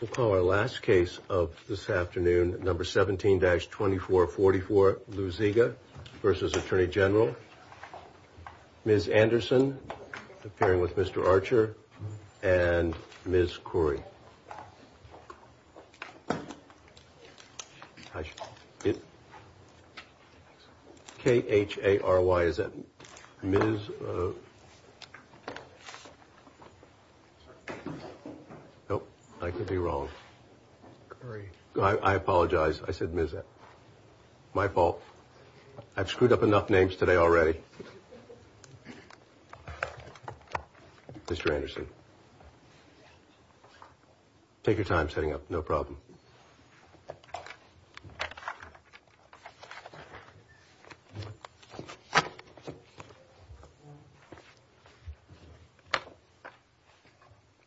We'll call our last case of this afternoon, number 17-2444 Luziga v. Atty Gen. Ms. Anderson, appearing with Mr. Archer, and Ms. Khoury. I apologize, I said Ms. My fault. I've screwed up enough names today already. Mr. Anderson, take your time setting up, no problem.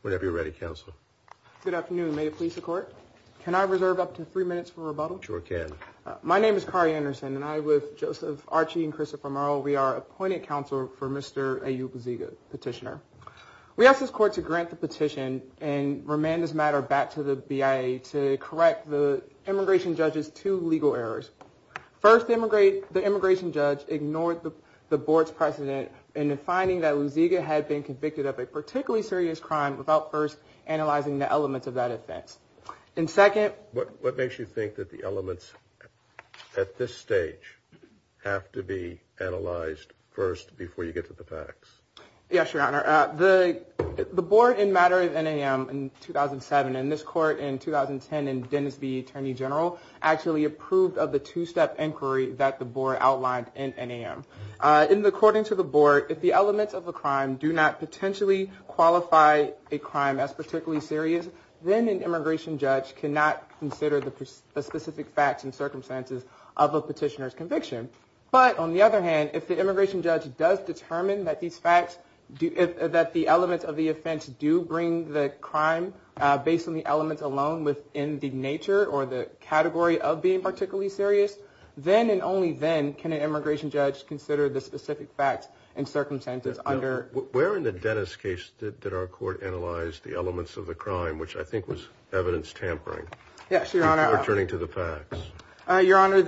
Whenever you're ready, counsel. Good afternoon, may it please the court? Can I reserve up to three minutes for rebuttal? Sure can. My name is Khoury Anderson, and I, with Joseph Archie and Christopher Merle, we are appointed counsel for Mr. A.J. Luziga, petitioner. We ask this court to grant the petition and remand this matter back to the BIA to correct the immigration judge's two legal errors. First, the immigration judge ignored the board's precedent in the finding that Luziga had been convicted of a particularly serious crime without first analyzing the elements of that offense. And second. What makes you think that the elements at this stage have to be analyzed first before you get to the facts? Yes, Your Honor. The board in matter of NAM in 2007 and this court in 2010 and Dennis v. Attorney General actually approved of the two-step inquiry that the board outlined in NAM. According to the board, if the elements of a crime do not potentially qualify a crime as particularly serious, then an immigration judge cannot consider the specific facts and circumstances of a petitioner's conviction. But on the other hand, if the immigration judge does determine that these facts, that the elements of the offense do bring the crime based on the elements alone within the nature or the category of being particularly serious, then and only then can an immigration judge consider the specific facts and circumstances under. Where in the Dennis case did our court analyze the elements of the crime, which I think was evidence tampering? Yes, Your Honor. Returning to the facts. Your Honor,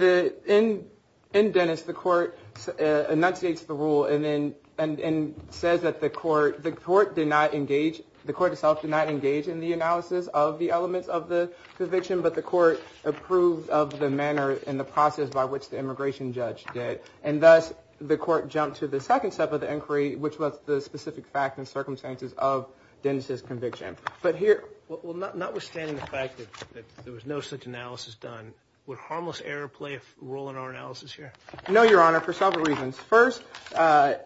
in Dennis, the court enunciates the rule and then says that the court, the court did not engage, the court itself did not engage in the analysis of the elements of the conviction, but the court approved of the manner and the process by which the immigration judge did. And thus, the court jumped to the second step of the inquiry, which was the specific facts and circumstances of Dennis's conviction. But here, well, notwithstanding the fact that there was no such analysis done, would harmless error play a role in our analysis here? No, Your Honor, for several reasons. First,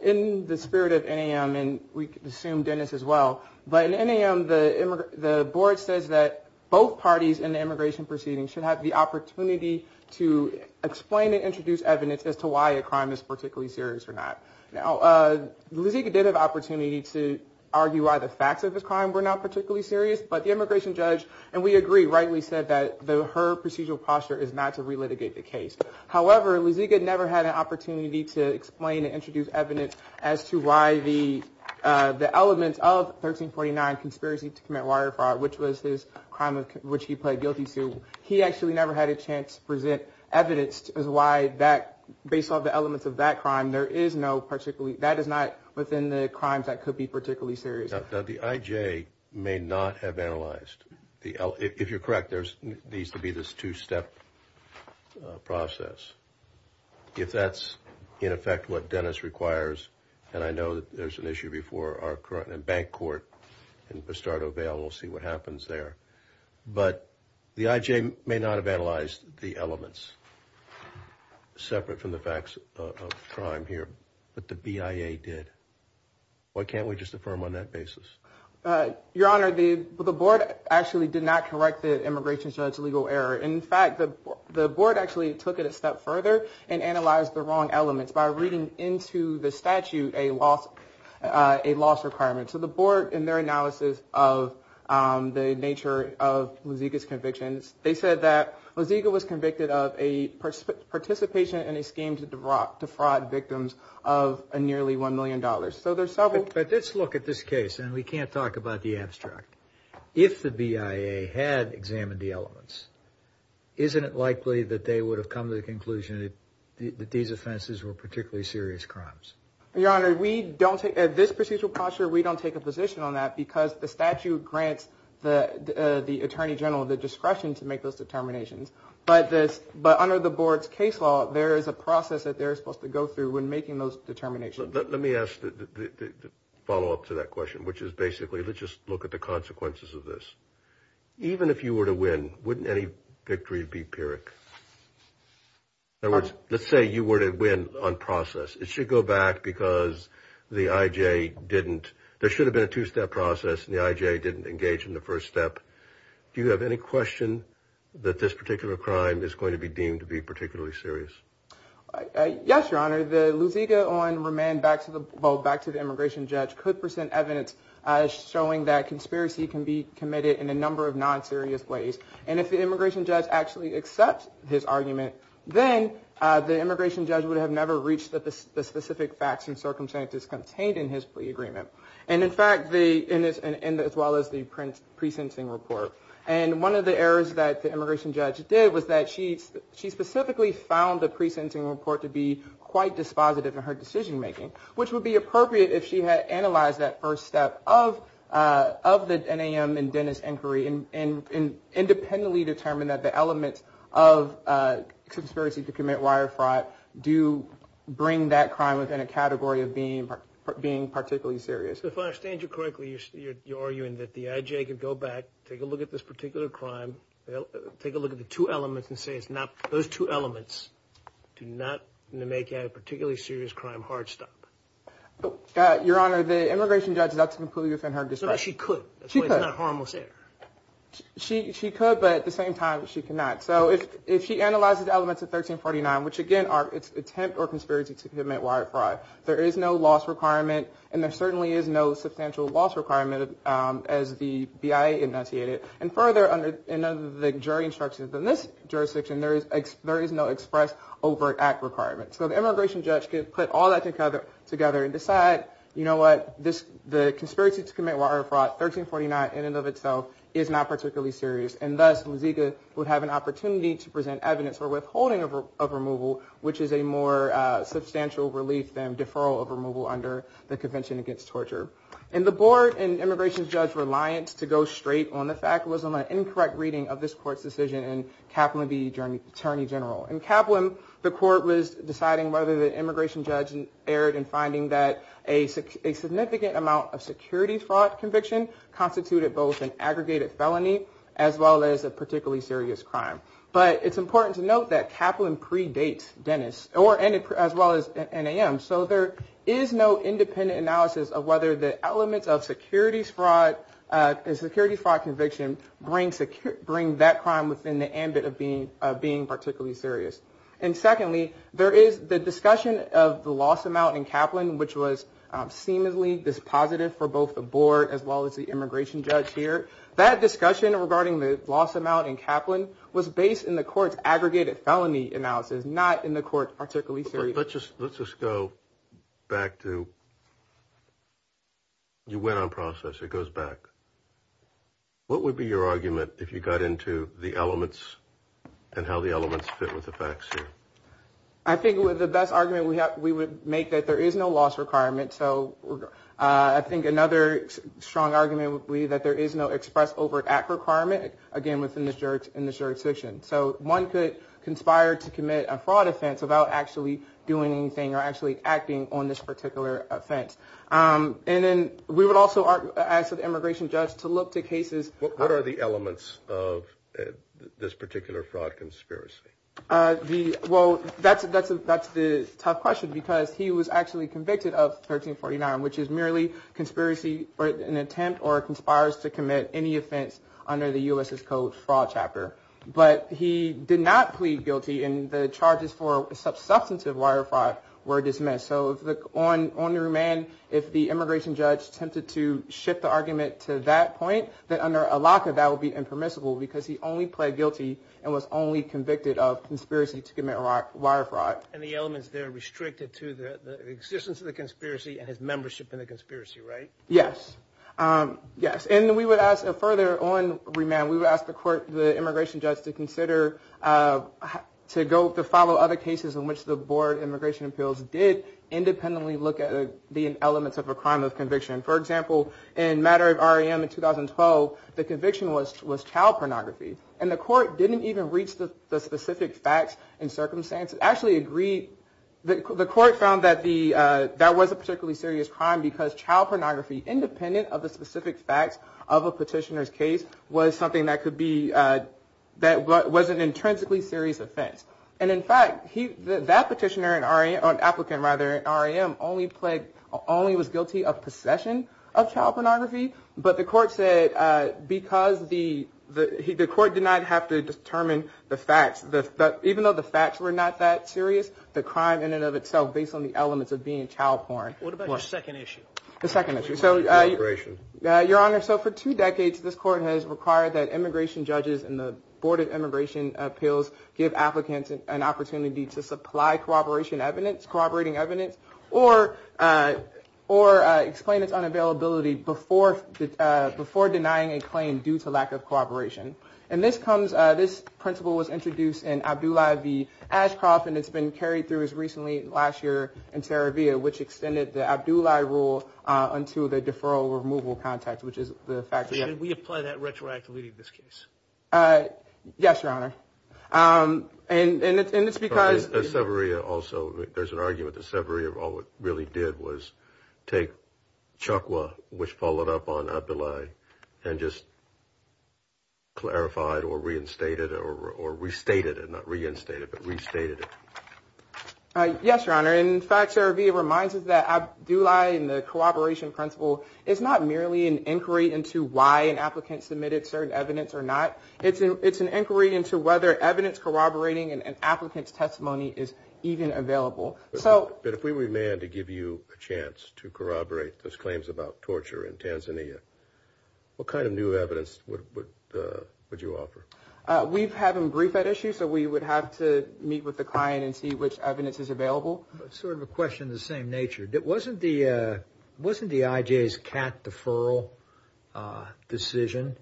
in the spirit of NAM, and we assume Dennis as well, but in NAM, the board says that both parties in the immigration proceeding should have the opportunity to explain and introduce evidence as to why a crime is particularly serious or not. Now, Luziga did have an opportunity to argue why the facts of this crime were not particularly serious, but the immigration judge, and we agree, rightly said that her procedural posture is not to relitigate the case. However, Luziga never had an opportunity to explain and introduce evidence as to why the elements of 1349, Conspiracy to Commit Water Fraud, which was his crime of which he pled guilty to, he actually never had a chance to present evidence as to why that, based on the elements of that crime, there is no particularly, that is not within the crimes that could be particularly serious. Now, the IJ may not have analyzed, if you're correct, there needs to be this two-step process. If that's, in effect, what Dennis requires, and I know that there's an issue before our current and bank court in Pistardo Vale, we'll see what happens there. But the IJ may not have analyzed the elements separate from the facts of crime here, but the BIA did. Why can't we just affirm on that basis? Your Honor, the board actually did not correct the immigration judge's legal error. In fact, the board actually took it a step further and analyzed the wrong elements by reading into the statute a loss requirement. So the board, in their analysis of the nature of Luziga's convictions, they said that Luziga was convicted of a participation in a scheme to defraud victims of nearly $1 million. So there's several. But let's look at this case, and we can't talk about the abstract. If the BIA had examined the elements, isn't it likely that they would have come to the conclusion that these offenses were particularly serious crimes? Your Honor, we don't take, at this procedural posture, we don't take a position on that because the statute grants the attorney general the discretion to make those determinations. But under the board's case law, there is a process that they're supposed to go through when making those determinations. Let me ask the follow-up to that question, which is basically let's just look at the consequences of this. Even if you were to win, wouldn't any victory be pyrrhic? In other words, let's say you were to win on process. It should go back because the I.J. didn't. There should have been a two-step process, and the I.J. didn't engage in the first step. Do you have any question that this particular crime is going to be deemed to be particularly serious? Yes, Your Honor. The Luziga on remand back to the immigration judge could present evidence showing that conspiracy can be committed in a number of non-serious ways. And if the immigration judge actually accepts his argument, then the immigration judge would have never reached the specific facts and circumstances contained in his plea agreement, as well as the pre-sentencing report. And one of the errors that the immigration judge did was that she specifically found the pre-sentencing report to be quite dispositive in her decision-making, which would be appropriate if she had analyzed that first step of the NAM and Dennis inquiry and independently determined that the elements of conspiracy to commit wire fraud do bring that crime within a category of being particularly serious. So if I understand you correctly, you're arguing that the I.J. could go back, take a look at this particular crime, take a look at the two elements and say it's not – those two elements do not make a particularly serious crime hard stop. Your Honor, the immigration judge is out to conclude within her discretion. No, she could. She could. That's why it's not harmless error. She could, but at the same time, she cannot. So if she analyzes elements of 1349, which, again, are attempt or conspiracy to commit wire fraud, there is no loss requirement and there certainly is no substantial loss requirement as the BIA enunciated. And further, under the jury instructions in this jurisdiction, there is no express overt act requirement. So the immigration judge could put all that together and decide, you know what, the conspiracy to commit wire fraud, 1349 in and of itself, is not particularly serious. And thus, Luziga would have an opportunity to present evidence for withholding of removal, which is a more substantial relief than deferral of removal under the Convention Against Torture. And the board and immigration judge's reliance to go straight on the fact was on an incorrect reading of this court's decision in Kaplan v. Attorney General. In Kaplan, the court was deciding whether the immigration judge erred in finding that a significant amount of security fraud conviction constituted both an aggregated felony as well as a particularly serious crime. But it's important to note that Kaplan predates Dennis, as well as NAM. So there is no independent analysis of whether the elements of security fraud conviction bring that crime within the ambit of being particularly serious. And secondly, there is the discussion of the loss amount in Kaplan, which was seemingly dispositive for both the board as well as the immigration judge here. That discussion regarding the loss amount in Kaplan was based in the court's aggregated felony analysis, not in the court's particularly serious. Let's just go back to you went on process. It goes back. What would be your argument if you got into the elements and how the elements fit with the facts here? I think the best argument we would make that there is no loss requirement. So I think another strong argument would be that there is no express overt act requirement. Again, within the jurisdiction. So one could conspire to commit a fraud offense without actually doing anything or actually acting on this particular offense. And then we would also ask the immigration judge to look to cases. What are the elements of this particular fraud conspiracy? Well, that's that's that's the tough question, because he was actually convicted of 1349, which is merely conspiracy or an attempt or conspires to commit any offense under the U.S. is called Fraud Chapter. But he did not plead guilty in the charges for substantive wire fraud were dismissed. So on on the remand, if the immigration judge attempted to shift the argument to that point, that under a lock of that would be impermissible because he only pled guilty and was only convicted of conspiracy to commit wire fraud. And the elements there restricted to the existence of the conspiracy and his membership in the conspiracy. Right. Yes. Yes. And we would ask a further on remand. We would ask the court, the immigration judge to consider to go to follow other cases in which the board immigration appeals did independently look at the elements of a crime of conviction. For example, in matter of R.A.M. in 2012, the conviction was was child pornography. And the court didn't even reach the specific facts and circumstances actually agree. The court found that the that was a particularly serious crime because child pornography, independent of the specific facts of a petitioner's case, was something that could be that wasn't intrinsically serious offense. And in fact, he that petitioner and R.A.M. on applicant rather R.A.M. only played only was guilty of possession of child pornography. But the court said because the the court did not have to determine the facts, that even though the facts were not that serious, the crime in and of itself, based on the elements of being child porn. What about the second issue? The second issue. So your honor. So for two decades, this court has required that immigration judges and the board of immigration appeals give applicants an opportunity to supply corroboration evidence, corroborating evidence, or or explain its unavailability before that, before denying a claim due to lack of cooperation. And this comes this principle was introduced in Abdullahi v. Ashcroft. And it's been carried through as recently last year in Saravia, which extended the Abdullahi rule until the deferral removal context, which is the fact that we apply that retroactively in this case. Yes, your honor. And it's because there's also there's an argument. The summary of all it really did was take Chukwa, which followed up on Abdullahi and just. Clarified or reinstated or restated and not reinstated, but restated. Yes, your honor. In fact, Saravia reminds us that Abdullahi and the cooperation principle is not merely an inquiry into why an applicant submitted certain evidence or not. It's it's an inquiry into whether evidence corroborating an applicant's testimony is even available. So if we were manned to give you a chance to corroborate those claims about torture in Tanzania. What kind of new evidence would you offer? We've had them brief that issue. So we would have to meet with the client and see which evidence is available. Sort of a question of the same nature. It wasn't the wasn't the IJ's cat deferral decision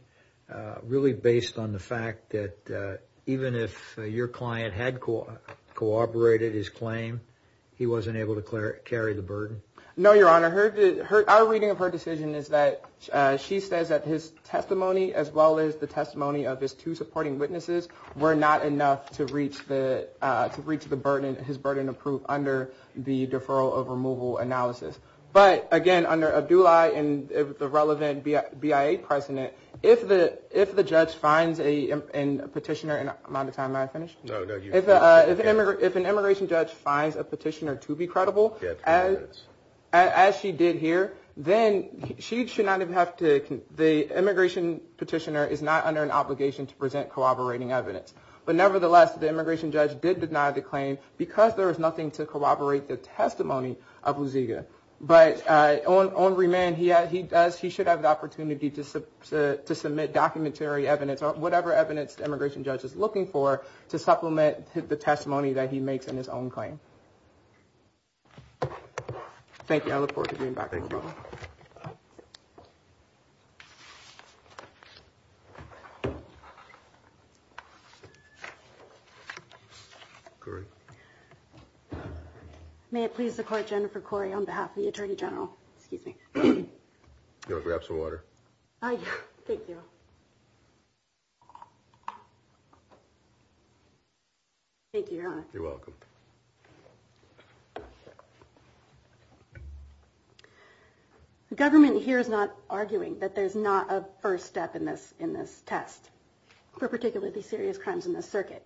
really based on the fact that even if your client had cooperated, his claim, he wasn't able to carry the burden. No, your honor. Our reading of her decision is that she says that his testimony, as well as the testimony of his two supporting witnesses, were not enough to reach the to reach the burden. His burden of proof under the deferral of removal analysis. But again, under Abdullahi and the relevant BIA precedent, if the if the judge finds a petitioner. No, no. If an immigration judge finds a petitioner to be credible, as she did here, then she should not have to. The immigration petitioner is not under an obligation to present corroborating evidence. But nevertheless, the immigration judge did deny the claim because there is nothing to corroborate the testimony of Luziga. But on remand, he he does. He should have the opportunity to submit documentary evidence or whatever evidence the immigration judge is looking for to supplement the testimony that he makes in his own claim. Thank you. I look forward to being back. Thank you. May it please the court, Jennifer Corey, on behalf of the attorney general. Excuse me. We have some water. Thank you. Thank you. You're welcome. The government here is not arguing that there's not a first step in this in this test for particularly serious crimes in the circuit.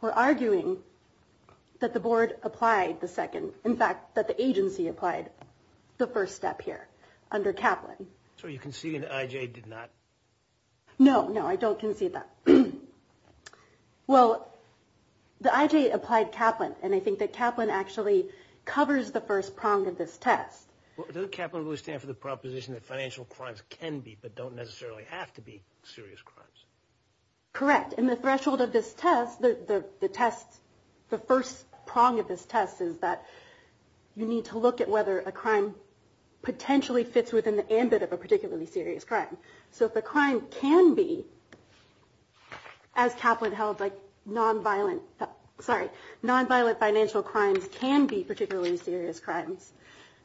We're arguing that the board applied the second. In fact, that the agency applied the first step here under Kaplan. So you can see an IJ did not. No, no, I don't concede that. Well, the IJ applied Kaplan, and I think that Kaplan actually covers the first prong of this test. Does Kaplan really stand for the proposition that financial crimes can be but don't necessarily have to be serious crimes? Correct. And the threshold of this test, the test, the first prong of this test is that you need to look at whether a crime potentially fits within the ambit of a particularly serious crime. So if a crime can be as Kaplan held, like nonviolent, sorry, nonviolent financial crimes can be particularly serious crimes,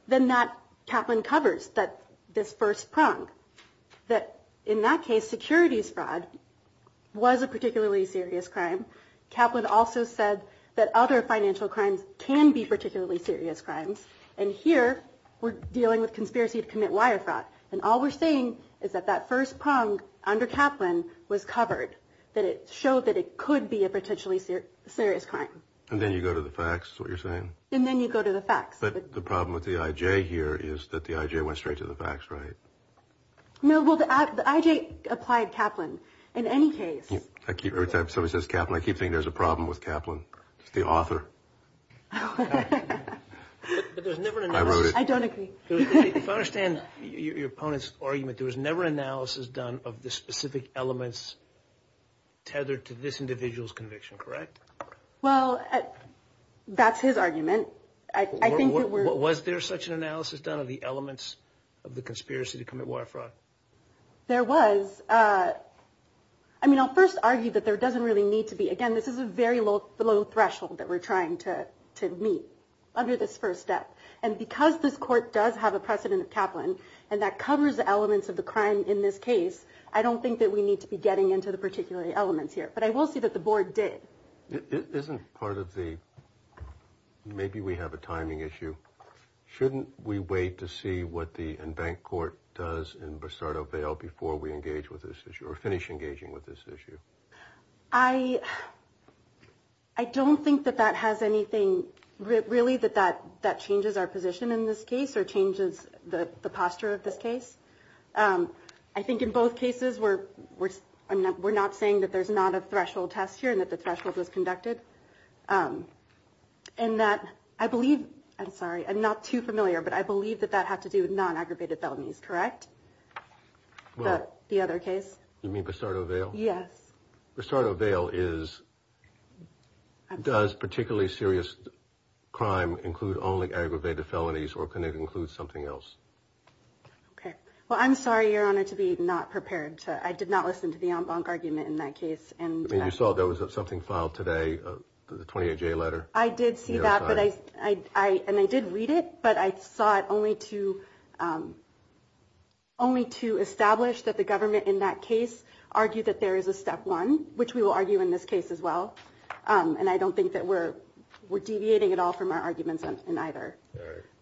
then that Kaplan covers that. This first prong that in that case, securities fraud was a particularly serious crime. Kaplan also said that other financial crimes can be particularly serious crimes. And here we're dealing with conspiracy to commit wire fraud. And all we're saying is that that first prong under Kaplan was covered, that it showed that it could be a potentially serious crime. And then you go to the facts, is what you're saying? And then you go to the facts. But the problem with the IJ here is that the IJ went straight to the facts, right? No, well, the IJ applied Kaplan in any case. Every time somebody says Kaplan, I keep thinking there's a problem with Kaplan. It's the author. I wrote it. I don't agree. If I understand your opponent's argument, there was never analysis done of the specific elements tethered to this individual's conviction, correct? Well, that's his argument. Was there such an analysis done of the elements of the conspiracy to commit wire fraud? There was. I mean, I'll first argue that there doesn't really need to be. Again, this is a very low threshold that we're trying to meet under this first step. And because this court does have a precedent of Kaplan, and that covers elements of the crime in this case, I don't think that we need to be getting into the particular elements here. But I will say that the board did. Isn't part of the maybe we have a timing issue? Shouldn't we wait to see what the in-bank court does in Bristardo Vale before we engage with this issue or finish engaging with this issue? I. I don't think that that has anything really that that that changes our position in this case or changes the posture of this case. I think in both cases where we're not saying that there's not a threshold test here and that the threshold was conducted and that I believe. I'm sorry. I'm not too familiar, but I believe that that had to do with non-aggravated felonies. Correct. The other case, you mean Bristardo Vale? Yes. Bristardo Vale is. Does particularly serious crime include only aggravated felonies or can it include something else? OK, well, I'm sorry, Your Honor, to be not prepared to. I did not listen to the argument in that case. And you saw there was something filed today. The 28 day letter. I did see that. And I did read it. But I saw it only to only to establish that the government in that case argued that there is a step one, which we will argue in this case as well. And I don't think that we're we're deviating at all from our arguments in either.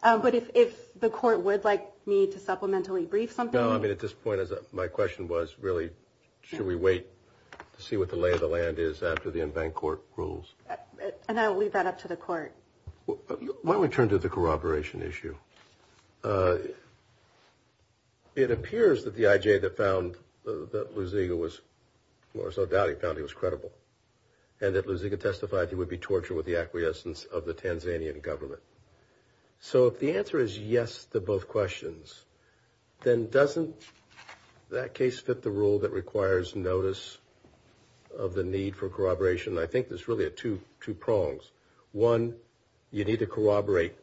But if the court would like me to supplementally brief something. I mean, at this point, my question was really, should we wait to see what the lay of the land is after the in-bank court rules? And I'll leave that up to the court. Why don't we turn to the corroboration issue? It appears that the IJ that found that Luziga was more so doubt he found he was credible and that Luziga testified he would be tortured with the acquiescence of the Tanzanian government. So if the answer is yes to both questions, then doesn't that case fit the rule that requires notice of the need for corroboration? I think there's really a two two prongs. One, you need to corroborate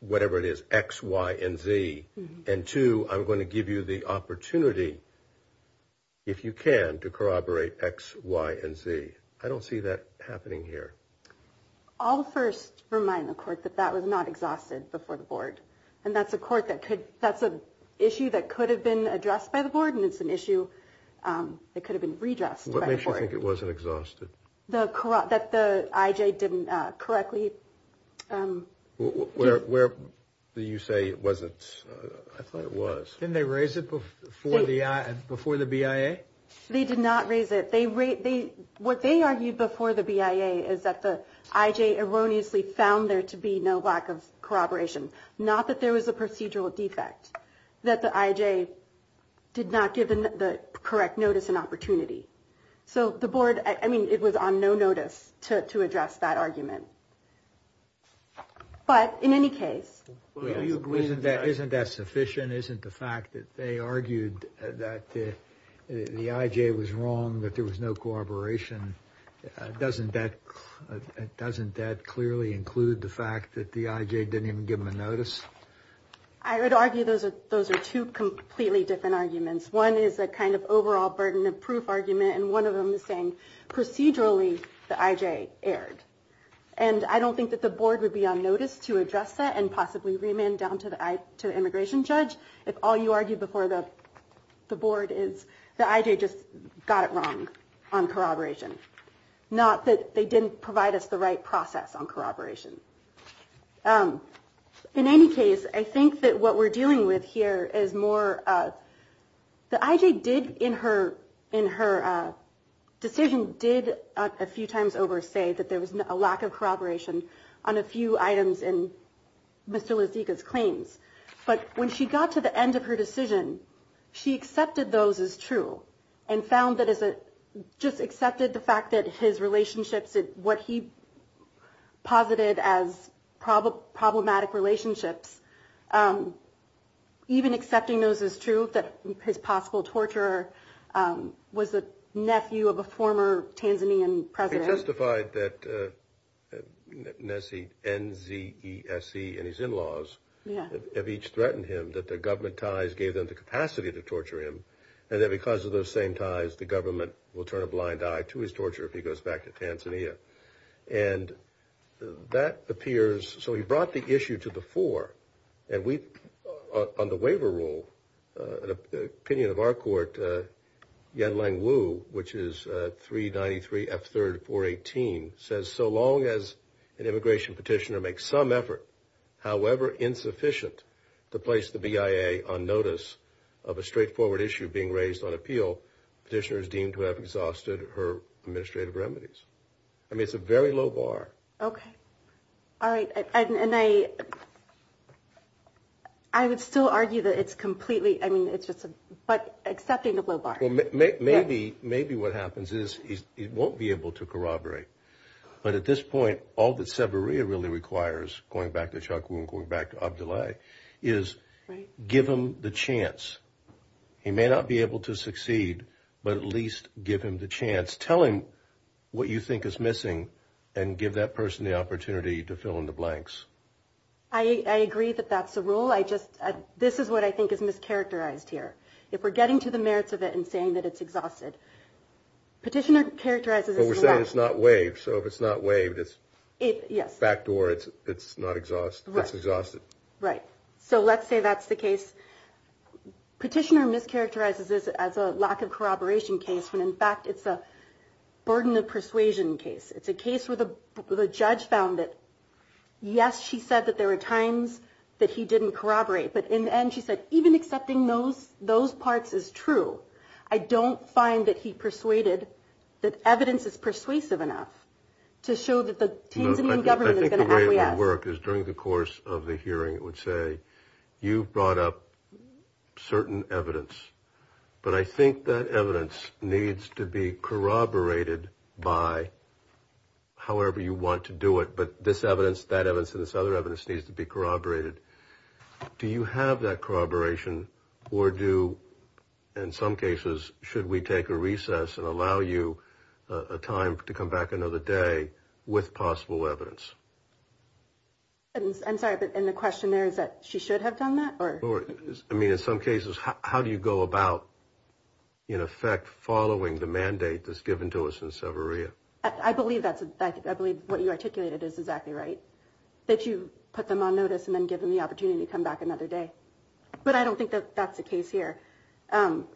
whatever it is, X, Y and Z. And two, I'm going to give you the opportunity. If you can to corroborate X, Y and Z. I don't see that happening here. All the first remind the court that that was not exhausted before the board. And that's a court that could that's a issue that could have been addressed by the board. And it's an issue that could have been redressed. What makes you think it wasn't exhausted? The corrupt that the IJ didn't correctly. Where do you say it wasn't? I thought it was. Didn't they raise it before the before the BIA? They did not raise it. They rate the what they argued before the BIA is that the IJ erroneously found there to be no lack of corroboration. Not that there was a procedural defect that the IJ did not give the correct notice and opportunity. So the board, I mean, it was on no notice to to address that argument. But in any case, isn't that isn't that sufficient? Isn't the fact that they argued that the IJ was wrong, that there was no corroboration? Doesn't that doesn't that clearly include the fact that the IJ didn't even give them a notice? I would argue those are those are two completely different arguments. One is a kind of overall burden of proof argument. And one of them is saying procedurally, the IJ erred. And I don't think that the board would be on notice to address that and possibly remand down to the immigration judge. If all you argue before the board is the IJ just got it wrong on corroboration, not that they didn't provide us the right process on corroboration. In any case, I think that what we're dealing with here is more the IJ did in her in her decision, did a few times over say that there was a lack of corroboration on a few items in Mr. posited as probable problematic relationships. Even accepting those is true, that his possible torture was the nephew of a former Tanzanian president. Justified that Nessie N.Z.C. and his in-laws have each threatened him that the government ties gave them the capacity to torture him. And that because of those same ties, the government will turn a blind eye to his torture if he goes back to Tanzania. And that appears, so he brought the issue to the fore. And we, on the waiver rule, an opinion of our court, Yen-Lang Wu, which is 393 F.3.418, says so long as an immigration petitioner makes some effort, however insufficient, to place the BIA on notice of a straightforward issue being raised on appeal, the petitioner is deemed to have exhausted her administrative remedies. I mean, it's a very low bar. Okay. All right. And I, I would still argue that it's completely, I mean, it's just, but accepting a low bar. Well, maybe, maybe what happens is he won't be able to corroborate. But at this point, all that Severia really requires, going back to Chuck Wu and going back to Abdoulaye, is give him the chance. He may not be able to succeed, but at least give him the chance. Tell him what you think is missing and give that person the opportunity to fill in the blanks. I agree that that's a rule. I just, this is what I think is mischaracterized here. If we're getting to the merits of it and saying that it's exhausted, petitioner characterizes it as a lack. But we're saying it's not waived, so if it's not waived, it's backdoor, it's not exhausted, it's exhausted. Right. So let's say that's the case. Petitioner mischaracterizes this as a lack of corroboration case, when in fact it's a burden of persuasion case. It's a case where the judge found it. Yes, she said that there were times that he didn't corroborate. But in the end, she said, even accepting those, those parts is true. I don't find that he persuaded that evidence is persuasive enough to show that the Tanzanian government is going to help. The way it would work is during the course of the hearing, it would say, you brought up certain evidence, but I think that evidence needs to be corroborated by however you want to do it. But this evidence, that evidence and this other evidence needs to be corroborated. Do you have that corroboration or do, in some cases, should we take a recess and allow you a time to come back another day with possible evidence? And I'm sorry, but the question there is that she should have done that. Or I mean, in some cases, how do you go about, in effect, following the mandate that's given to us in Severia? I believe that's I believe what you articulated is exactly right. That you put them on notice and then give them the opportunity to come back another day. But I don't think that that's the case here.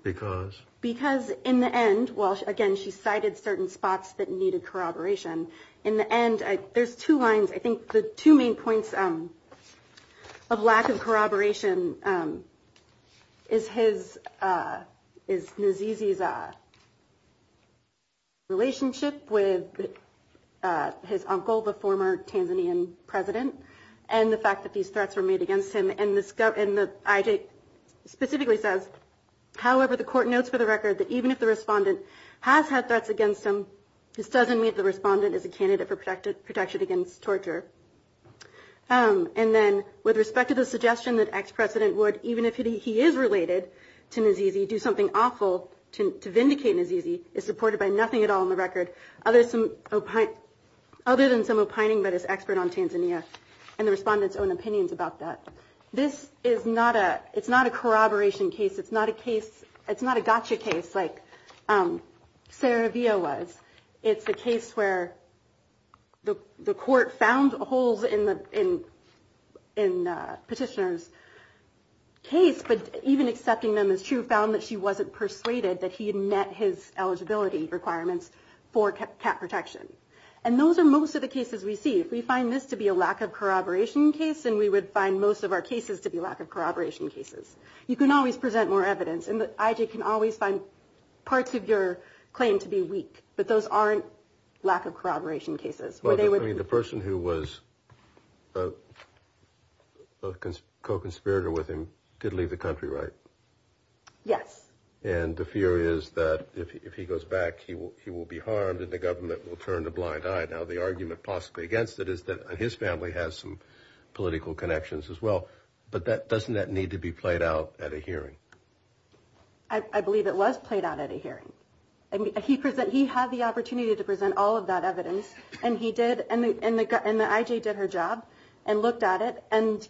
Because? Because in the end, well, again, she cited certain spots that needed corroboration. In the end, there's two lines. I think the two main points of lack of corroboration is his, is Nzizi's relationship with his uncle, the former Tanzanian president, and the fact that these threats were made against him. And the IJ specifically says, however, the court notes for the record that even if the respondent has had threats against him, this doesn't mean the respondent is a candidate for protected protection against torture. And then with respect to the suggestion that ex-president would, even if he is related to Nzizi, do something awful to vindicate Nzizi is supported by nothing at all in the record. Other than some opining by this expert on Tanzania and the respondent's own opinions about that. This is not a, it's not a corroboration case. It's not a case, it's not a gotcha case like Saravia was. It's a case where the court found holes in the petitioner's case. But even accepting them as true, found that she wasn't persuaded that he had met his eligibility requirements for cat protection. And those are most of the cases we see. If we find this to be a lack of corroboration case, then we would find most of our cases to be lack of corroboration cases. You can always present more evidence and the IJ can always find parts of your claim to be weak. But those aren't lack of corroboration cases. I mean, the person who was a co-conspirator with him did leave the country, right? Yes. And the fear is that if he goes back, he will be harmed and the government will turn a blind eye. Now, the argument possibly against it is that his family has some political connections as well. But that doesn't need to be played out at a hearing. I believe it was played out at a hearing. He had the opportunity to present all of that evidence and he did. And the IJ did her job and looked at it and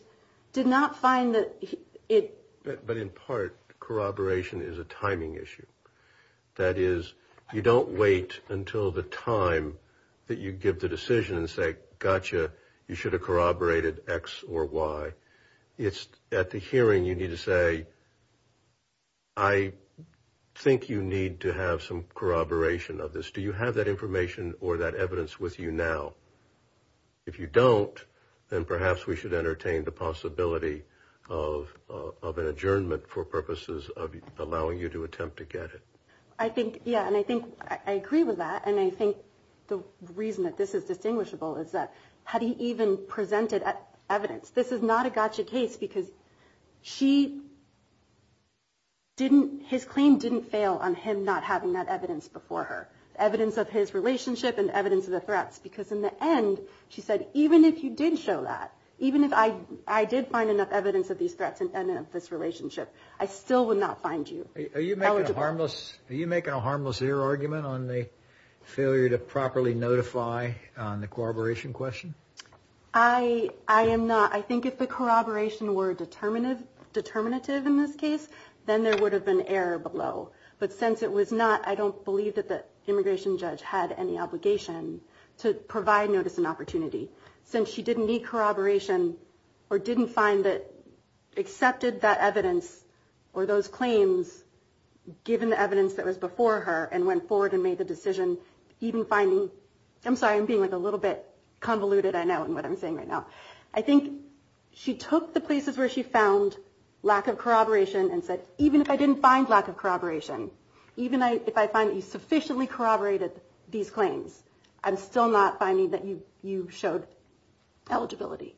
did not find that it... But in part, corroboration is a timing issue. That is, you don't wait until the time that you give the decision and say, gotcha, you should have corroborated X or Y. At the hearing, you need to say, I think you need to have some corroboration of this. Do you have that information or that evidence with you now? If you don't, then perhaps we should entertain the possibility of an adjournment for purposes of allowing you to attempt to get it. I think, yeah, and I think I agree with that. And I think the reason that this is distinguishable is that had he even presented evidence, this is not a gotcha case because she didn't... His claim didn't fail on him not having that evidence before her. Evidence of his relationship and evidence of the threats. Because in the end, she said, even if you did show that, even if I did find enough evidence of these threats and of this relationship, I still would not find you eligible. Are you making a harmless... Are you making a harmless ear argument on the failure to properly notify on the corroboration question? I am not. I think if the corroboration were determinative in this case, then there would have been error below. But since it was not, I don't believe that the immigration judge had any obligation to provide notice and opportunity. Since she didn't need corroboration or didn't find that accepted that evidence or those claims, given the evidence that was before her and went forward and made the decision, even finding... I think she took the places where she found lack of corroboration and said, even if I didn't find lack of corroboration, even if I find that you sufficiently corroborated these claims, I'm still not finding that you showed eligibility.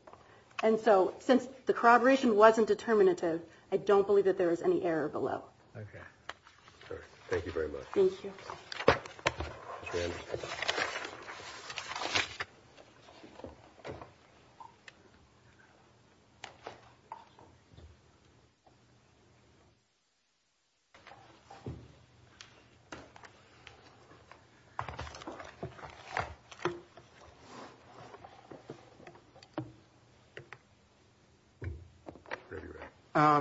And so since the corroboration wasn't determinative, I don't believe that there was any error below. Okay. Thank you very much. Thank you. Thank you.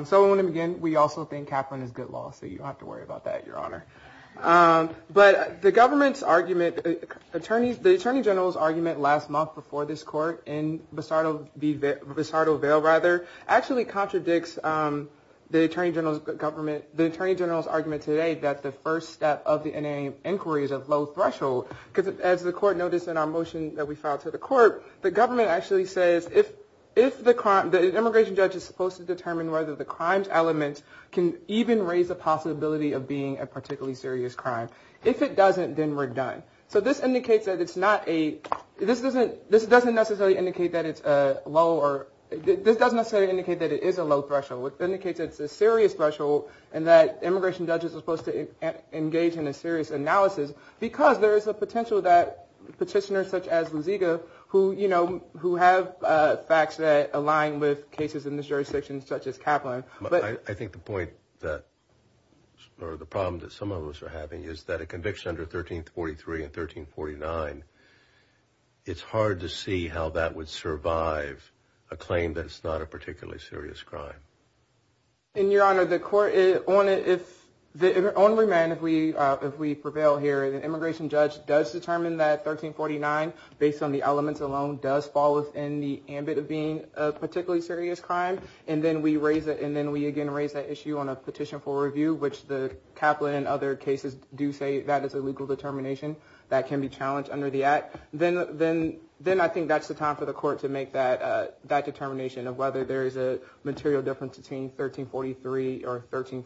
So I want to begin. We also think Kaplan is good law, so you don't have to worry about that, Your Honor. But the government's argument, the Attorney General's argument last month before this court in Bisardo Vale, actually contradicts the Attorney General's argument today that the first step of the NAA inquiry is a low threshold. Because as the court noticed in our motion that we filed to the court, the government actually says if the immigration judge is supposed to determine whether the crimes element can even raise the possibility of being a particularly serious crime. If it doesn't, then we're done. So this indicates that it's not a... This doesn't necessarily indicate that it's a low or... This doesn't necessarily indicate that it is a low threshold. It indicates that it's a serious threshold and that immigration judges are supposed to engage in a serious analysis because there is a potential that petitioners such as Luziga, who have facts that align with cases in this jurisdiction such as Kaplan... I think the point that... Or the problem that some of us are having is that a conviction under 1343 and 1349, it's hard to see how that would survive a claim that it's not a particularly serious crime. In your honor, the court... On remand, if we prevail here, the immigration judge does determine that 1349, based on the elements alone, does fall within the ambit of being a particularly serious crime. And then we raise it. And then we again raise that issue on a petition for review, which the Kaplan and other cases do say that is a legal determination that can be challenged under the act. Then I think that's the time for the court to make that determination of whether there is a material difference between 1343 or 13...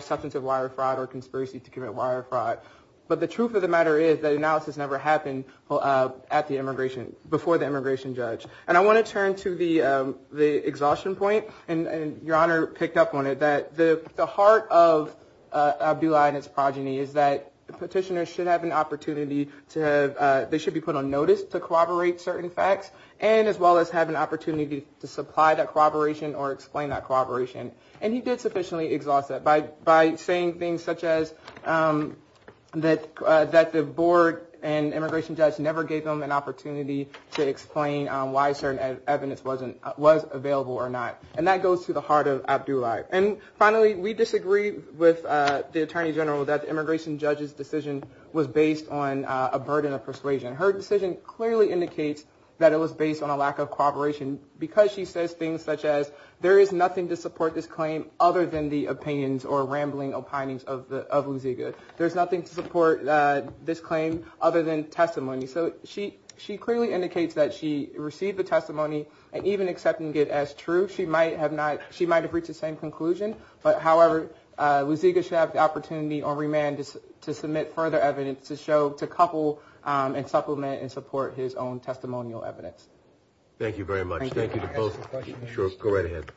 Substance of wire fraud or conspiracy to commit wire fraud. But the truth of the matter is that analysis never happened at the immigration... Before the immigration judge. And I want to turn to the exhaustion point. And your honor picked up on it. The heart of Abdullahi and his progeny is that petitioners should have an opportunity to have... They should be put on notice to corroborate certain facts. And as well as have an opportunity to supply that corroboration or explain that corroboration. And he did sufficiently exhaust that by saying things such as that the board and immigration judge never gave them an opportunity to explain why certain evidence was available or not. And that goes to the heart of Abdullahi. And finally, we disagree with the attorney general that the immigration judge's decision was based on a burden of persuasion. Her decision clearly indicates that it was based on a lack of cooperation. Because she says things such as there is nothing to support this claim other than the opinions or rambling opinions of Luziga. There's nothing to support this claim other than testimony. So she clearly indicates that she received the testimony and even accepting it as true. She might have not... She might have reached the same conclusion. But however, Luziga should have the opportunity on remand to submit further evidence to show... To couple and supplement and support his own testimonial evidence. Thank you very much. Thank you. Can I ask a question? Sure. Go right ahead.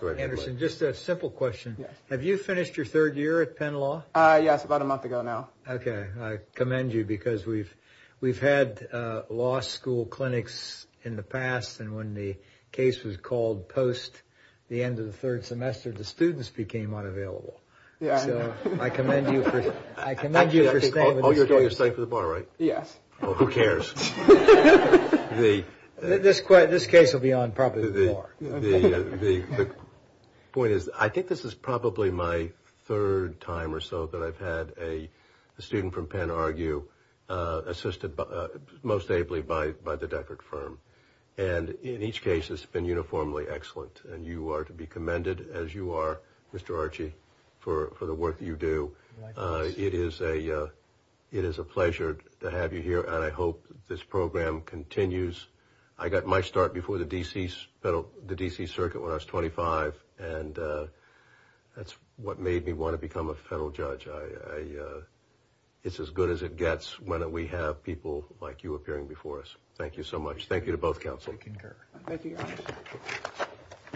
Go ahead. Anderson, just a simple question. Yes. Have you finished your third year at Penn Law? Yes. About a month ago now. Okay. I commend you because we've had law school clinics in the past. And when the case was called post the end of the third semester, the students became unavailable. Yeah. So I commend you for staying. Oh, you're staying for the bar, right? Yes. Oh, who cares? This case will be on probably the bar. The point is, I think this is probably my third time or so that I've had a student from Penn argue, assisted most ably by the Deckert firm. And in each case, it's been uniformly excellent. And you are to be commended as you are, Mr. Archie, for the work that you do. It is a pleasure to have you here. And I hope this program continues. I got my start before the D.C. Circuit when I was 25. And that's what made me want to become a federal judge. It's as good as it gets when we have people like you appearing before us. Thank you so much. Thank you to both counsels. I concur. Thank you, Your Honor.